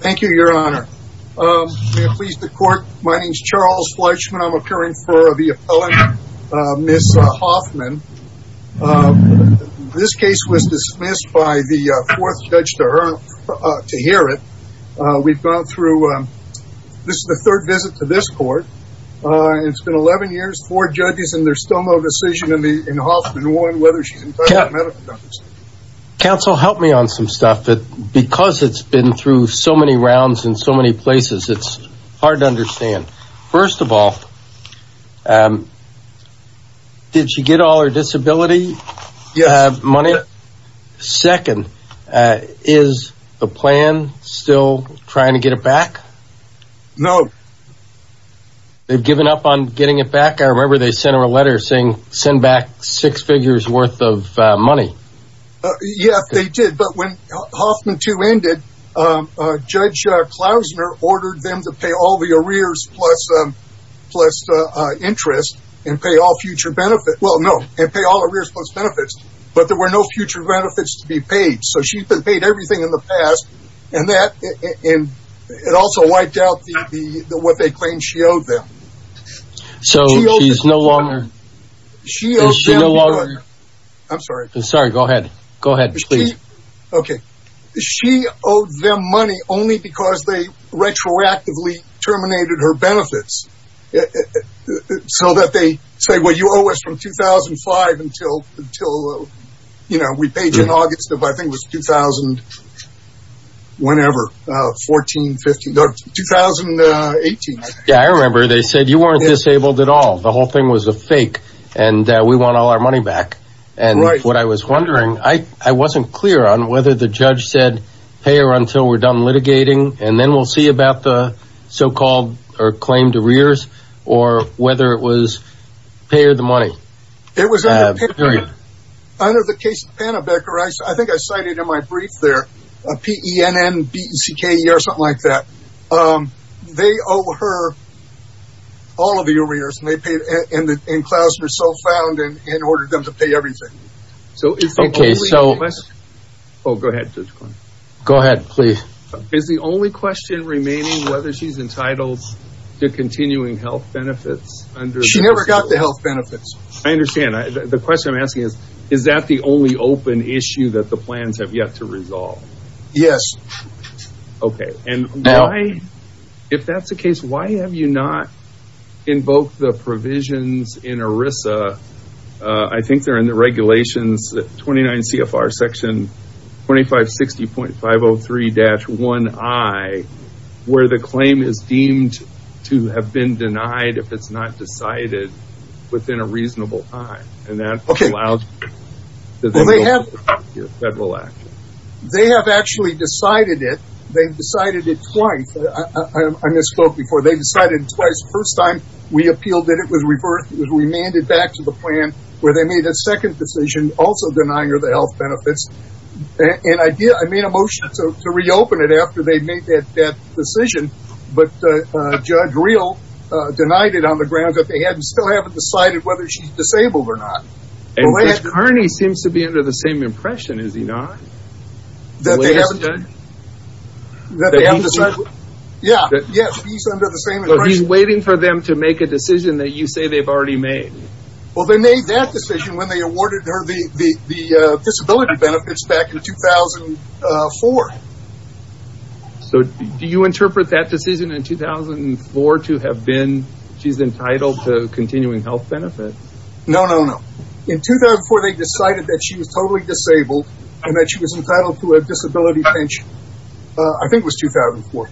Thank you, your honor. May it please the court, my name is Charles Fleischman. I'm occurring for the appellant, Ms. Hoffman. This case was dismissed by the fourth judge to hear it. We've gone through, this is the third visit to this court. It's been 11 years, four judges and there's still no decision in Hoffman 1 whether she's entitled to medical notice. Counsel, help me on some stuff. Because it's been through so many rounds in so many places, it's hard to understand. First of all, did she get all her disability money? Second, is the plan still trying to get it back? No. They've given up on getting it back? I remember they sent her a letter saying send back six figures worth of money. Yes, they did. But when Hoffman 2 ended, Judge Klausner ordered them to pay all the arrears plus interest and pay all future benefits. Well, no, and pay all arrears plus benefits. But there were no future benefits to be paid. So she's been paid everything in the past and it also wiped out what they claimed she owed them. So she's no longer... I'm sorry. Sorry, go ahead. Go ahead, please. She owed them money only because they retroactively terminated her benefits. So that they say, well, you owe us from 2005 until, you know, we paid you in August of I think it was 2000, whenever, 14, 15, 2018. Yeah, I remember they said you weren't disabled at all. The whole thing was a fake and we want all our money back. And what I was wondering, I wasn't clear on whether the judge said pay her until we're done litigating and then we'll see about the so-called or claimed arrears or whether it was pay her the money. It was under the case of Panabecker, I think I cited in my brief there, P-E-N-N-B-E-C-K-E-R, something like that. They owe her all of the arrears and Klausner so found and ordered them to pay everything. Go ahead, please. Is the only question remaining whether she's entitled to continuing health benefits? She never got the health benefits. I understand. The question I'm asking is, is that the only open issue that the plans have yet to resolve? Yes. Okay. And if that's the case, why have you not invoked the provisions in ERISA? I think they're in the regulations, 29 CFR section 2560.503-1I, where the claim is deemed to have been denied if it's not decided within a reasonable time. Okay. And that allows federal action. They have actually decided it. They've decided it twice. I misspoke before. They've decided it twice. The first time we appealed that it was reversed, it was remanded back to the plan, where they made a second decision also denying her the health benefits. And I made a motion to reopen it after they made that decision, but Judge Real denied it on the grounds that they still haven't decided whether she's disabled or not. And Judge Kearney seems to be under the same impression, is he not? The latest judge? Yeah, he's under the same impression. He's waiting for them to make a decision that you say they've already made. Well, they made that decision when they awarded her the disability benefits back in 2004. So do you interpret that decision in 2004 to have been she's entitled to continuing health benefits? No, no, no. In 2004, they decided that she was totally disabled and that she was entitled to a disability pension. I think it was 2004.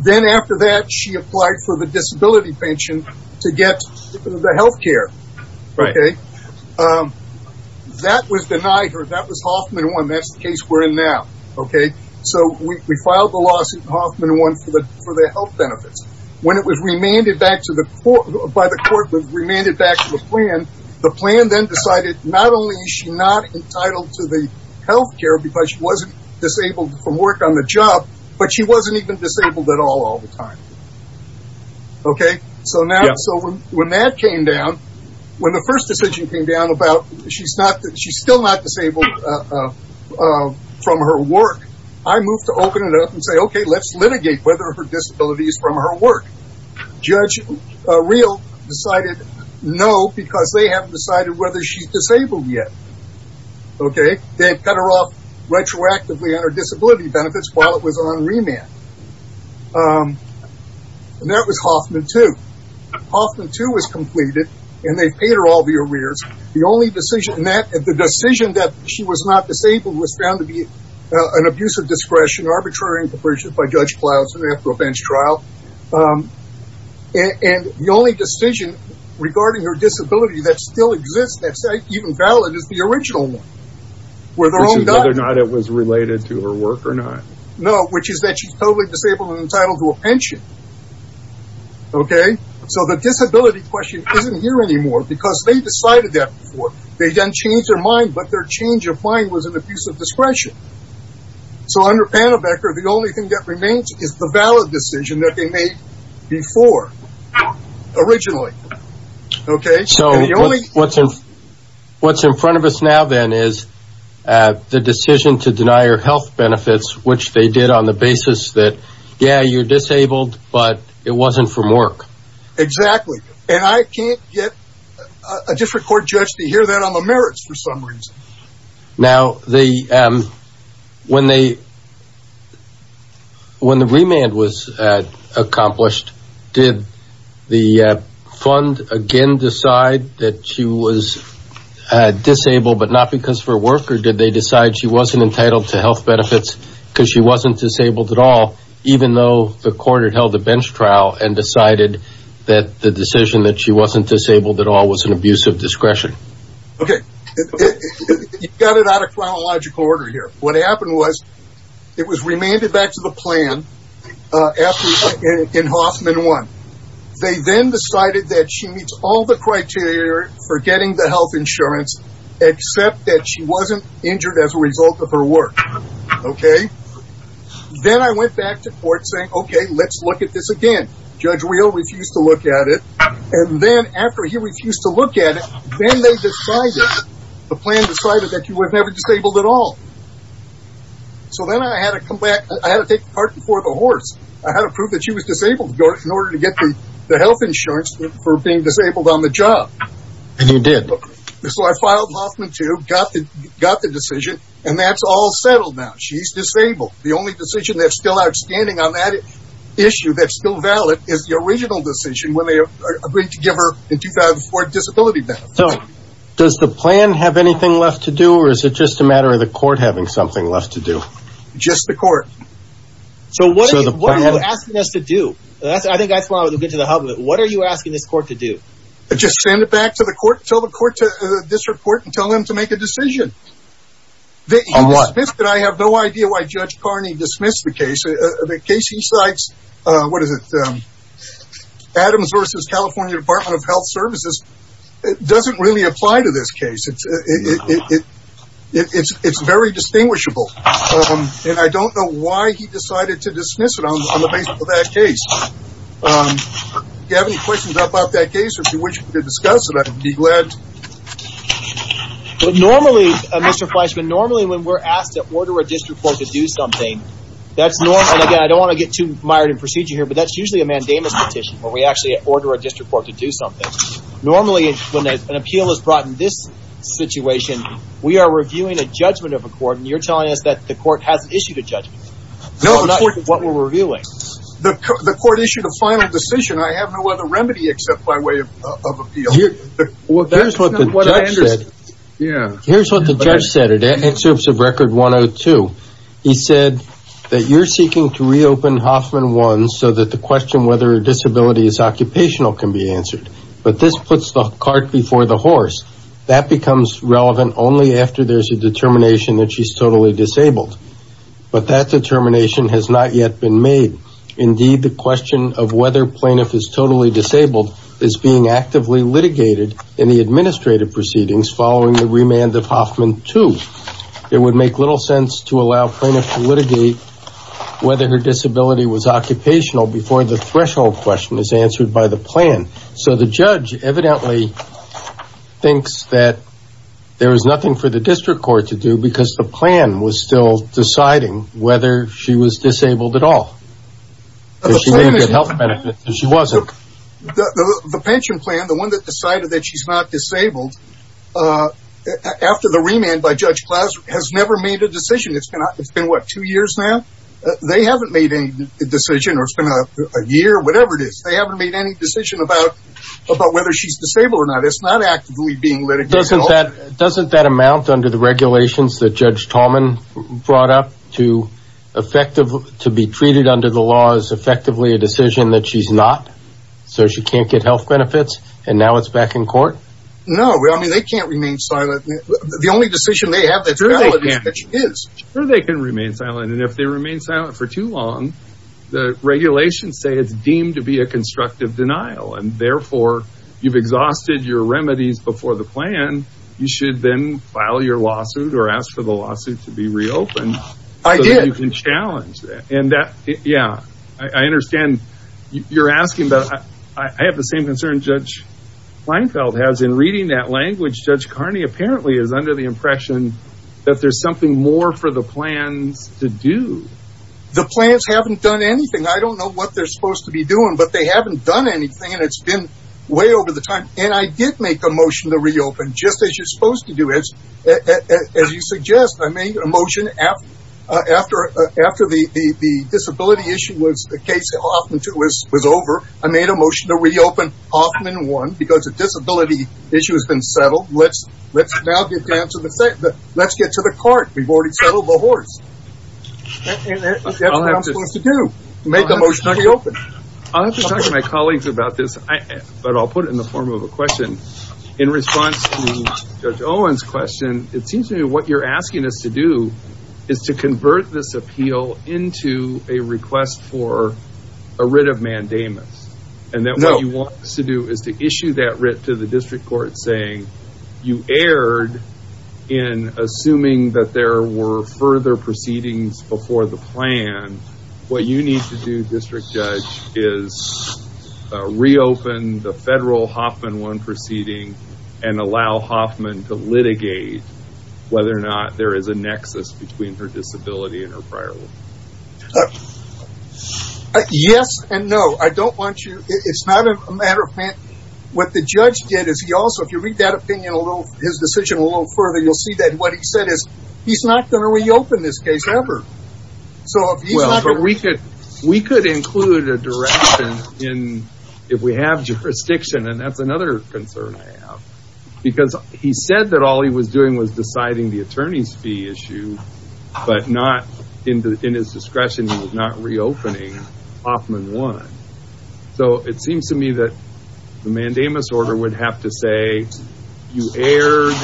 Then after that, she applied for the disability pension to get the health care. Right. Okay. That was denied her. That was Hoffman 1. That's the case we're in now. Okay. So we filed the lawsuit in Hoffman 1 for the health benefits. When it was remanded back to the court, by the court, it was remanded back to the plan. The plan then decided not only is she not entitled to the health care because she wasn't disabled from work on the job, but she wasn't even disabled at all all the time. Okay? Yeah. So when that came down, when the first decision came down about she's still not disabled from her work, I moved to open it up and say, okay, let's litigate whether her disability is from her work. Judge Real decided no because they haven't decided whether she's disabled yet. Okay? They've cut her off retroactively on her disability benefits while it was on remand. And that was Hoffman 2. Hoffman 2 was completed and they've paid her all the arrears. The only decision in that, the decision that she was not disabled was found to be an abuse of discretion, arbitrary interpretation by Judge Clausen after a bench trial. And the only decision regarding her disability that still exists that's even valid is the original one. Which is whether or not it was related to her work or not. No, which is that she's totally disabled and entitled to a pension. Okay? So the disability question isn't here anymore because they decided that before. They then changed their mind, but their change of mind was an abuse of discretion. So under Pannebecker, the only thing that remains is the valid decision that they made before, originally. Okay? So what's in front of us now then is the decision to deny her health benefits, which they did on the basis that, yeah, you're disabled, but it wasn't from work. Exactly. And I can't get a district court judge to hear that on the merits for some reason. Now, when the remand was accomplished, did the fund again decide that she was disabled but not because of her work? Or did they decide she wasn't entitled to health benefits because she wasn't disabled at all, even though the court had held a bench trial and decided that the decision that she wasn't disabled at all was an abuse of discretion? Okay. You've got it out of chronological order here. What happened was it was remanded back to the plan in Hoffman 1. They then decided that she meets all the criteria for getting the health insurance except that she wasn't injured as a result of her work. Okay? Then I went back to court saying, okay, let's look at this again. Judge Real refused to look at it. And then after he refused to look at it, then they decided, the plan decided that she was never disabled at all. So then I had to come back. I had to take the cart before the horse. I had to prove that she was disabled in order to get the health insurance for being disabled on the job. And you did. So I filed Hoffman 2, got the decision, and that's all settled now. She's disabled. The only decision that's still outstanding on that issue that's still valid is the original decision when they agreed to give her a 2004 disability benefit. So does the plan have anything left to do, or is it just a matter of the court having something left to do? Just the court. So what are you asking us to do? I think that's where I want to get to the hub of it. What are you asking this court to do? Just send it back to the court, tell the court this report, and tell them to make a decision. On what? I have no idea why Judge Carney dismissed the case. The case he cites, what is it, Adams v. California Department of Health Services, doesn't really apply to this case. It's very distinguishable. And I don't know why he decided to dismiss it on the basis of that case. Do you have any questions about that case or do you wish to discuss it? I'd be glad to. Normally, Mr. Fleischman, normally when we're asked to order a district court to do something, that's normal. And, again, I don't want to get too mired in procedure here, but that's usually a mandamus petition where we actually order a district court to do something. Normally, when an appeal is brought in this situation, we are reviewing a judgment of a court, and you're telling us that the court hasn't issued a judgment. No. So I'm not sure what we're reviewing. The court issued a final decision. I have no other remedy except by way of appeal. Well, that's not what I understood. Here's what the judge said in Excerpts of Record 102. He said that you're seeking to reopen Hoffman One so that the question whether a disability is occupational can be answered. But this puts the cart before the horse. That becomes relevant only after there's a determination that she's totally disabled. But that determination has not yet been made. Indeed, the question of whether a plaintiff is totally disabled is being actively litigated in the administrative proceedings following the remand of Hoffman Two. It would make little sense to allow plaintiffs to litigate whether her disability was occupational before the threshold question is answered by the plan. So the judge evidently thinks that there is nothing for the district court to do because the plan was still deciding whether she was disabled at all. She may have health benefits, but she wasn't. The pension plan, the one that decided that she's not disabled, after the remand by Judge Klaus, has never made a decision. It's been, what, two years now? They haven't made any decision or it's been a year, whatever it is. They haven't made any decision about whether she's disabled or not. It's not actively being litigated at all. Doesn't that amount under the regulations that Judge Tallman brought up to be treated under the law as effectively a decision that she's not? So she can't get health benefits and now it's back in court? No, I mean, they can't remain silent. The only decision they have that's valid is that she is. Sure they can remain silent. And if they remain silent for too long, the regulations say it's deemed to be a constructive denial. And therefore, you've exhausted your remedies before the plan. You should then file your lawsuit or ask for the lawsuit to be reopened. I did. So that you can challenge that. And that, yeah, I understand you're asking, but I have the same concern Judge Leinfeld has in reading that language. Judge Carney apparently is under the impression that there's something more for the plans to do. The plans haven't done anything. I don't know what they're supposed to be doing, but they haven't done anything. And it's been way over the time. And I did make a motion to reopen, just as you're supposed to do. As you suggest, I made a motion after the disability issue was the case Hoffman 2 was over. I made a motion to reopen Hoffman 1 because a disability issue has been settled. Let's now get down to the, let's get to the cart. We've already settled the horse. That's what I'm supposed to do. Make a motion to reopen. I'll have to talk to my colleagues about this, but I'll put it in the form of a question. In response to Judge Owen's question, it seems to me what you're asking us to do is to convert this appeal into a request for a writ of mandamus. And then what you want us to do is to issue that writ to the district court saying you erred in assuming that there were further proceedings before the plan. What you need to do, District Judge, is reopen the federal Hoffman 1 proceeding and allow Hoffman to litigate whether or not there is a nexus between her disability and her prior one. Yes and no. I don't want you, it's not a matter of, what the judge did is he also, if you read that opinion, his decision a little further, you'll see that what he said is he's not going to reopen this case ever. We could include a direction if we have jurisdiction, and that's another concern I have. Because he said that all he was doing was deciding the attorney's fee issue, but in his discretion he was not reopening Hoffman 1. So it seems to me that the mandamus order would have to say you erred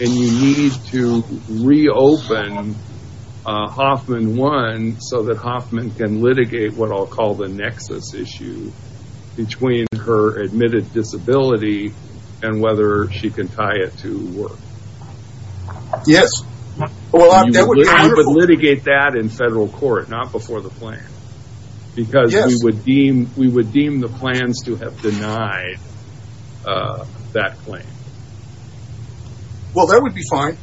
and you need to reopen Hoffman 1 so that Hoffman can litigate what I'll call the nexus issue between her admitted disability and whether she can tie it to work. Yes. You would litigate that in federal court, not before the plan. Yes. Because we would deem the plans to have denied that claim. Well that would be fine.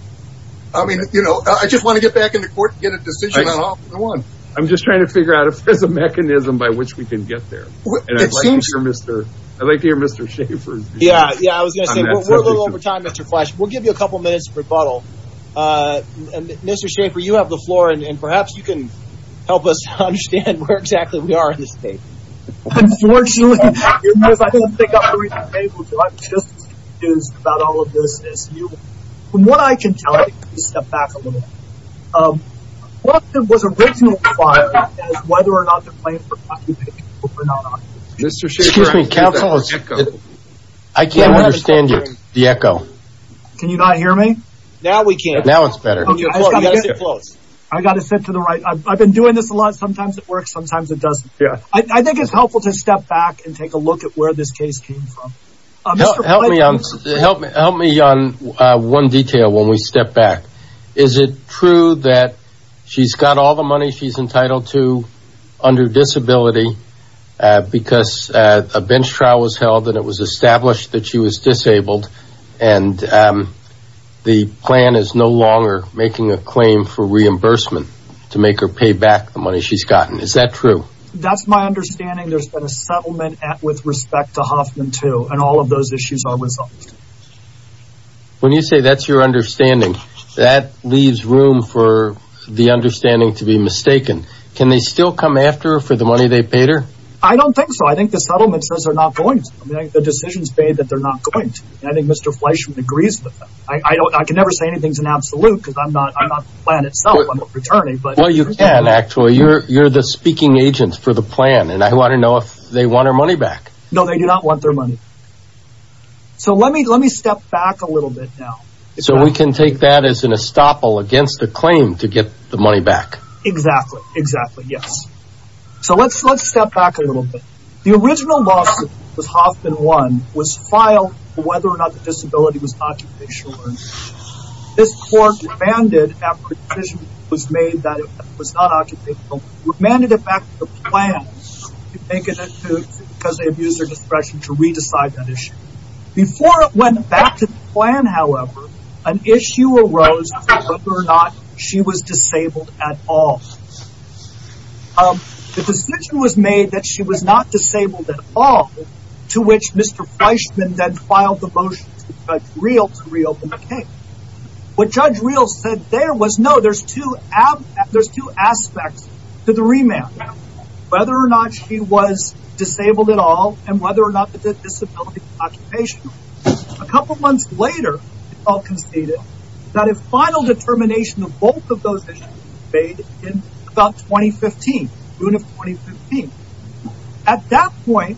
I just want to get back in the court and get a decision on Hoffman 1. I'm just trying to figure out if there's a mechanism by which we can get there. It seems so. I'd like to hear Mr. Schaffer's view. We're a little over time, Mr. Flesch. We'll give you a couple minutes to rebuttal. Mr. Schaffer, you have the floor, and perhaps you can help us understand where exactly we are in this case. Unfortunately, I think I'll pick up where you left off. I'm just confused about all of this. From what I can tell, let me step back a little bit. What was originally filed as whether or not the claim was documented or not? Excuse me, counsel. I can't understand you. The echo. Can you not hear me? Now we can. Now it's better. You've got to sit close. I've got to sit to the right. I've been doing this a lot. Sometimes it works, sometimes it doesn't. I think it's helpful to step back and take a look at where this case came from. Help me on one detail when we step back. Is it true that she's got all the money she's entitled to under disability because a bench trial was held and it was established that she was disabled and the plan is no longer making a claim for reimbursement to make her pay back the money she's gotten? Is that true? That's my understanding. There's been a settlement with respect to Hoffman, too, and all of those issues are resolved. When you say that's your understanding, that leaves room for the understanding to be mistaken. Can they still come after her for the money they paid her? I don't think so. I think the settlement says they're not going to. The decision's made that they're not going to. I think Mr. Fleischman agrees with that. I can never say anything's an absolute because I'm not the plan itself. I'm a fraternity. Well, you can, actually. You're the speaking agent for the plan, and I want to know if they want her money back. No, they do not want their money. So let me step back a little bit now. So we can take that as an estoppel against a claim to get the money back? Exactly. Exactly. Yes. So let's step back a little bit. The original lawsuit with Hoffman, one, was filed for whether or not the disability was occupational. This court demanded after a decision was made that it was not occupational, demanded it back to the plan to make an issue because they abused their discretion to re-decide that issue. Before it went back to the plan, however, an issue arose as to whether or not she was disabled at all. The decision was made that she was not disabled at all, to which Mr. Fleischman then filed the motion to Judge Reel to reopen the case. What Judge Reel said there was, no, there's two aspects to the remand. Whether or not she was disabled at all and whether or not the disability was occupational. A couple months later, it's all conceded that a final determination of both of those issues was made in about 2015, June of 2015. At that point,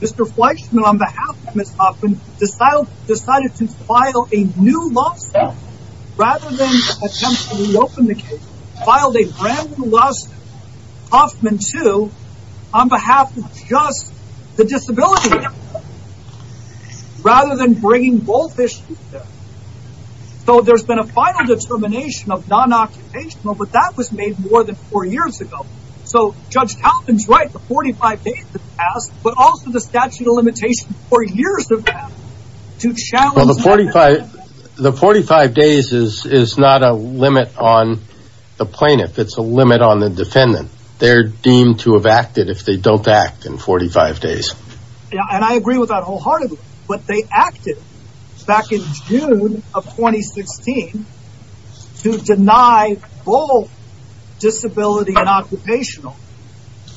Mr. Fleischman, on behalf of Ms. Hoffman, decided to file a new lawsuit rather than attempt to reopen the case. Filed a brand new lawsuit, Hoffman 2, on behalf of just the disability, rather than bringing both issues together. So there's been a final determination of non-occupational, but that was made more than four years ago. So Judge Kaufman's right, the 45 days have passed, but also the statute of limitations, four years of that, to challenge... Well, the 45 days is not a limit on the plaintiff, it's a limit on the defendant. They're deemed to have acted if they don't act in 45 days. And I agree with that wholeheartedly, but they acted back in June of 2016 to deny both disability and occupational.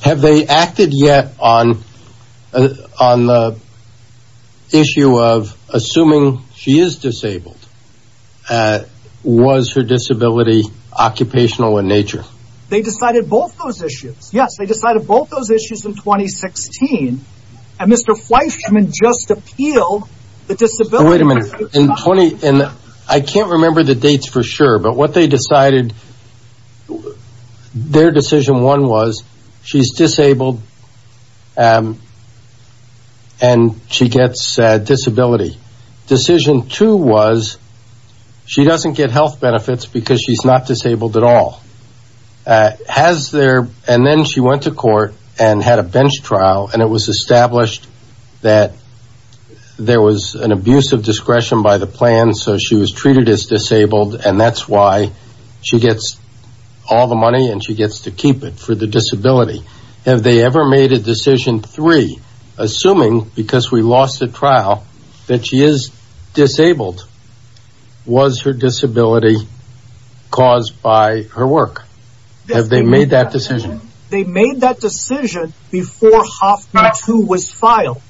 Have they acted yet on the issue of assuming she is disabled? Was her disability occupational in nature? They decided both those issues. Yes, they decided both those issues in 2016. And Mr. Fleischman just appealed the disability... Wait a minute. I can't remember the dates for sure, but what they decided, their decision one was, she's disabled and she gets disability. Decision two was, she doesn't get health benefits because she's not disabled at all. And then she went to court and had a bench trial, and it was established that there was an abuse of discretion by the plan, so she was treated as disabled, and that's why she gets all the money and she gets to keep it for the disability. Have they ever made a decision three, assuming because we lost the trial that she is disabled, was her disability caused by her work? Have they made that decision? They made that decision before Hoffman 2 was filed.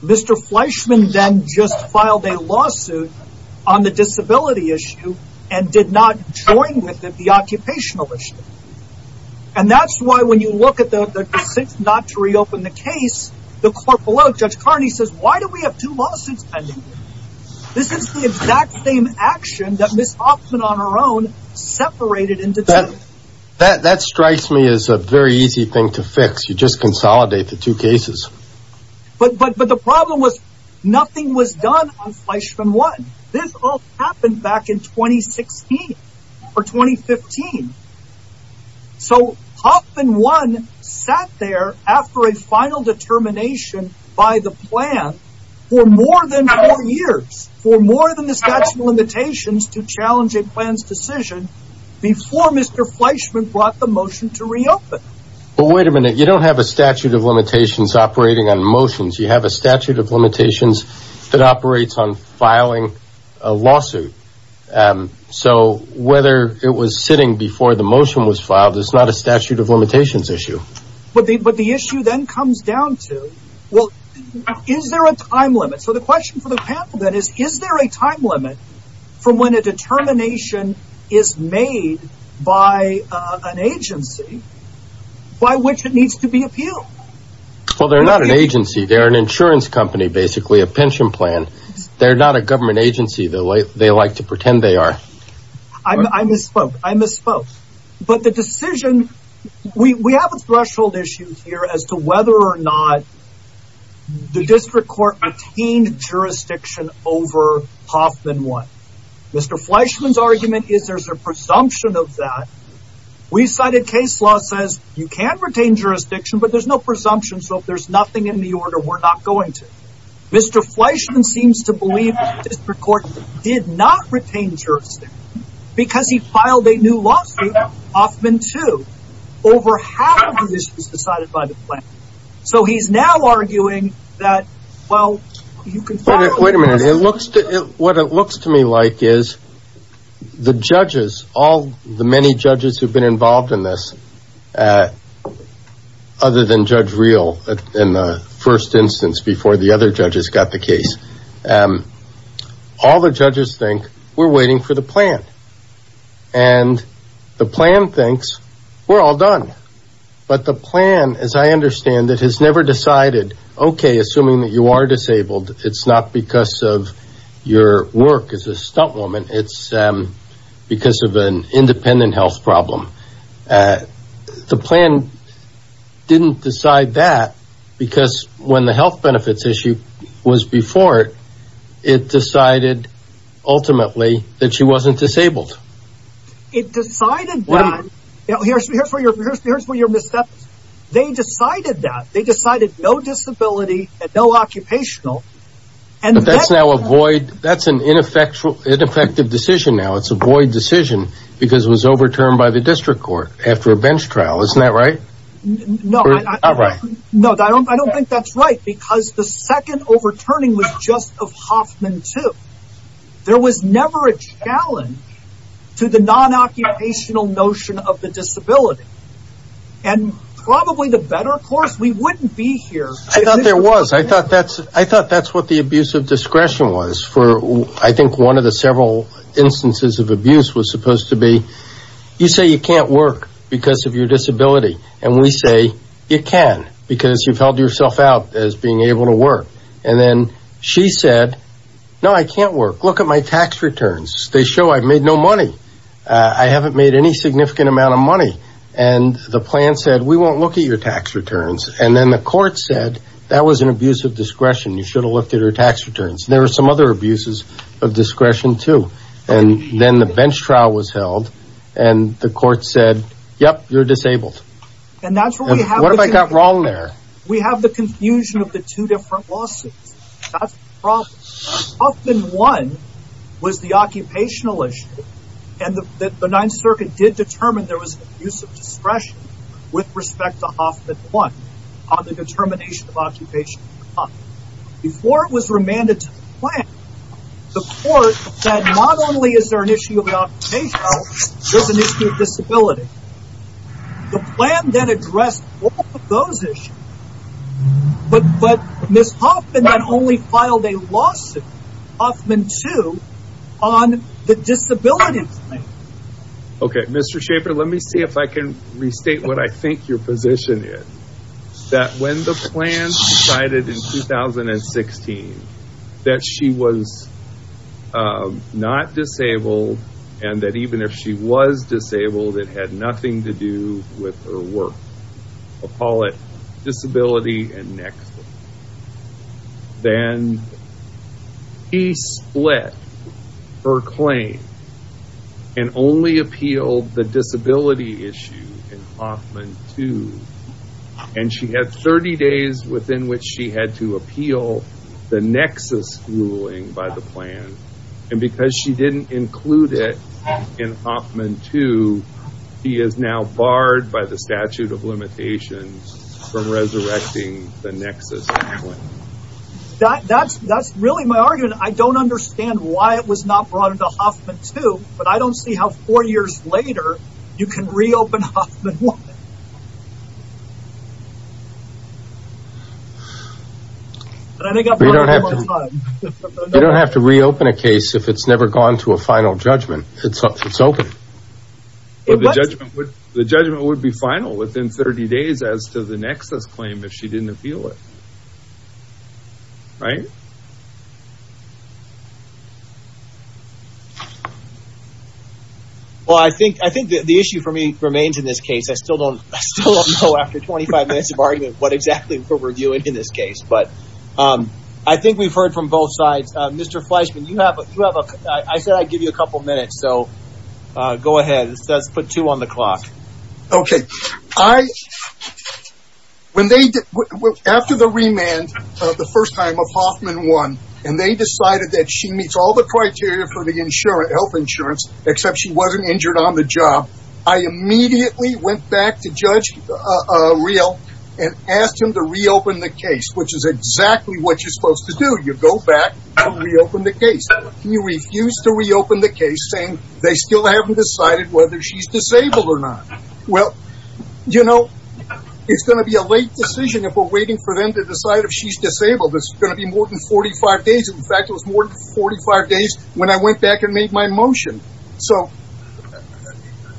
Mr. Fleischman then just filed a lawsuit on the disability issue and did not join with the occupational issue. And that's why when you look at the decision not to reopen the case, the court below Judge Carney says, why do we have two lawsuits pending? This is the exact same action that Ms. Hoffman on her own separated into two. That strikes me as a very easy thing to fix. You just consolidate the two cases. But the problem was nothing was done on Fleischman 1. This all happened back in 2016 or 2015. So Hoffman 1 sat there after a final determination by the plan for more than four years, for more than the statute of limitations to challenge a plan's decision before Mr. Fleischman brought the motion to reopen. But wait a minute. You don't have a statute of limitations operating on motions. You have a statute of limitations that operates on filing a lawsuit. So whether it was sitting before the motion was filed is not a statute of limitations issue. But the issue then comes down to, well, is there a time limit? So the question for the panel then is, is there a time limit from when a determination is made by an agency by which it needs to be appealed? Well, they're not an agency. They're an insurance company, basically a pension plan. They're not a government agency the way they like to pretend they are. I misspoke. I misspoke. But the decision, we have a threshold issue here as to whether or not the district court attained jurisdiction over Hoffman 1. Mr. Fleischman's argument is there's a presumption of that. We've cited case law that says you can retain jurisdiction, but there's no presumption, so if there's nothing in the order, we're not going to. Mr. Fleischman seems to believe the district court did not retain jurisdiction because he filed a new lawsuit, Hoffman 2, over half of the issues decided by the plan. So he's now arguing that, well, you can file a new lawsuit. Wait a minute. What it looks to me like is the judges, all the many judges who've been involved in this, other than Judge Reel in the first instance before the other judges got the case, all the judges think we're waiting for the plan. And the plan thinks we're all done. But the plan, as I understand it, has never decided, okay, assuming that you are disabled, it's not because of your work as a stunt woman. It's because of an independent health problem. The plan didn't decide that because when the health benefits issue was before it, it decided ultimately that she wasn't disabled. It decided that. Here's where you're misstepping. They decided that. They decided no disability and no occupational. But that's now a void. That's an ineffective decision now. It's a void decision because it was overturned by the district court after a bench trial. Isn't that right? No, I don't think that's right because the second overturning was just of Hoffman 2. There was never a challenge to the non-occupational notion of the disability. And probably the better course, we wouldn't be here. I thought there was. I thought that's what the abuse of discretion was. I think one of the several instances of abuse was supposed to be you say you can't work because of your disability, and we say you can because you've held yourself out as being able to work. And then she said, no, I can't work. Look at my tax returns. They show I've made no money. I haven't made any significant amount of money. And the plan said we won't look at your tax returns. And then the court said that was an abuse of discretion. You should have looked at her tax returns. There were some other abuses of discretion, too. And then the bench trial was held and the court said, yep, you're disabled. And that's what we have. What have I got wrong there? We have the confusion of the two different lawsuits. That's the problem. Huffman won was the occupational issue. And the Ninth Circuit did determine there was an abuse of discretion with respect to Huffman won on the determination of occupational harm. Before it was remanded to the plan, the court said not only is there an issue of the occupational, there's an issue of disability. The plan then addressed all of those issues. But Ms. Huffman then only filed a lawsuit, Huffman 2, on the disability claim. Okay, Mr. Schaefer, let me see if I can restate what I think your position is. That when the plan decided in 2016 that she was not disabled and that even if she was disabled, it had nothing to do with her work. I'll call it disability and next. Then he split her claim and only appealed the disability issue in Huffman 2. And she had 30 days within which she had to appeal the nexus ruling by the plan. And because she didn't include it in Huffman 2, she is now barred by the statute of limitations from resurrecting the nexus. That's really my argument. I don't understand why it was not brought into Huffman 2. But I don't see how four years later you can reopen Huffman 1. You don't have to reopen a case if it's never gone to a final judgment. It's open. The judgment would be final within 30 days as to the nexus claim if she didn't appeal it. Right? Well, I think the issue for me remains in this case. I still don't know after 25 minutes of argument what exactly we're doing in this case. But I think we've heard from both sides. Mr. Fleischman, I said I'd give you a couple minutes. So go ahead. Let's put two on the clock. Okay. After the remand the first time of Huffman 1, and they decided that she meets all the criteria for the health insurance except she wasn't injured on the job, I immediately went back to Judge Riel and asked him to reopen the case, which is exactly what you're supposed to do. He refused to reopen the case, saying they still haven't decided whether she's disabled or not. Well, you know, it's going to be a late decision if we're waiting for them to decide if she's disabled. It's going to be more than 45 days. In fact, it was more than 45 days when I went back and made my motion. So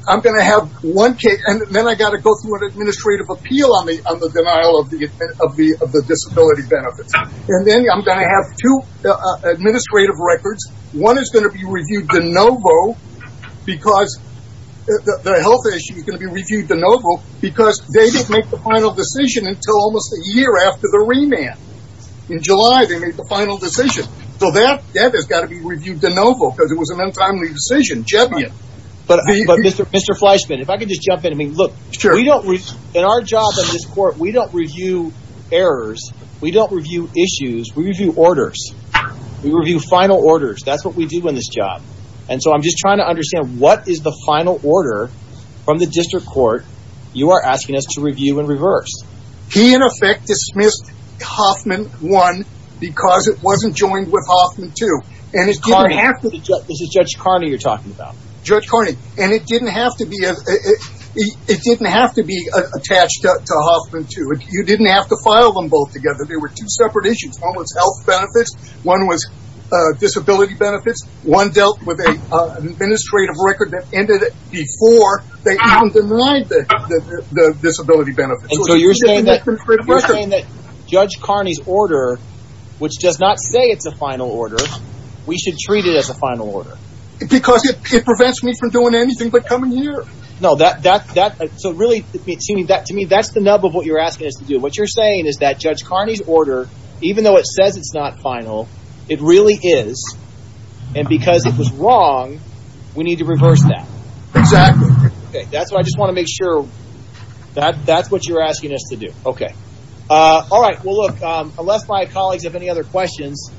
I'm going to have one case, and then I've got to go through an administrative appeal on the denial of the disability benefits. And then I'm going to have two administrative records. One is going to be reviewed de novo because the health issue is going to be reviewed de novo because they didn't make the final decision until almost a year after the remand. In July they made the final decision. So that has got to be reviewed de novo because it was an untimely decision. But Mr. Fleischman, if I could just jump in. I mean, look, in our job in this court, we don't review errors. We don't review issues. We review orders. We review final orders. That's what we do in this job. And so I'm just trying to understand, what is the final order from the district court you are asking us to review in reverse? He, in effect, dismissed Hoffman 1 because it wasn't joined with Hoffman 2. This is Judge Carney you're talking about. Judge Carney. And it didn't have to be attached to Hoffman 2. You didn't have to file them both together. They were two separate issues. One was health benefits. One was disability benefits. One dealt with an administrative record that ended before they even denied the disability benefits. And so you're saying that Judge Carney's order, which does not say it's a final order, we should treat it as a final order. Because it prevents me from doing anything but come in here. No, so really, to me, that's the nub of what you're asking us to do. What you're saying is that Judge Carney's order, even though it says it's not final, it really is. And because it was wrong, we need to reverse that. Exactly. Okay. That's what I just want to make sure. That's what you're asking us to do. Okay. All right. Well, look, unless my colleagues have any other questions,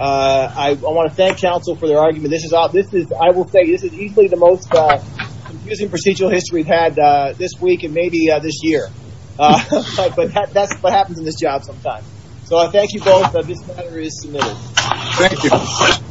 I want to thank counsel for their argument. I will say this is easily the most confusing procedural history we've had this week and maybe this year. But that's what happens in this job sometimes. So I thank you both. This matter is submitted. Thank you.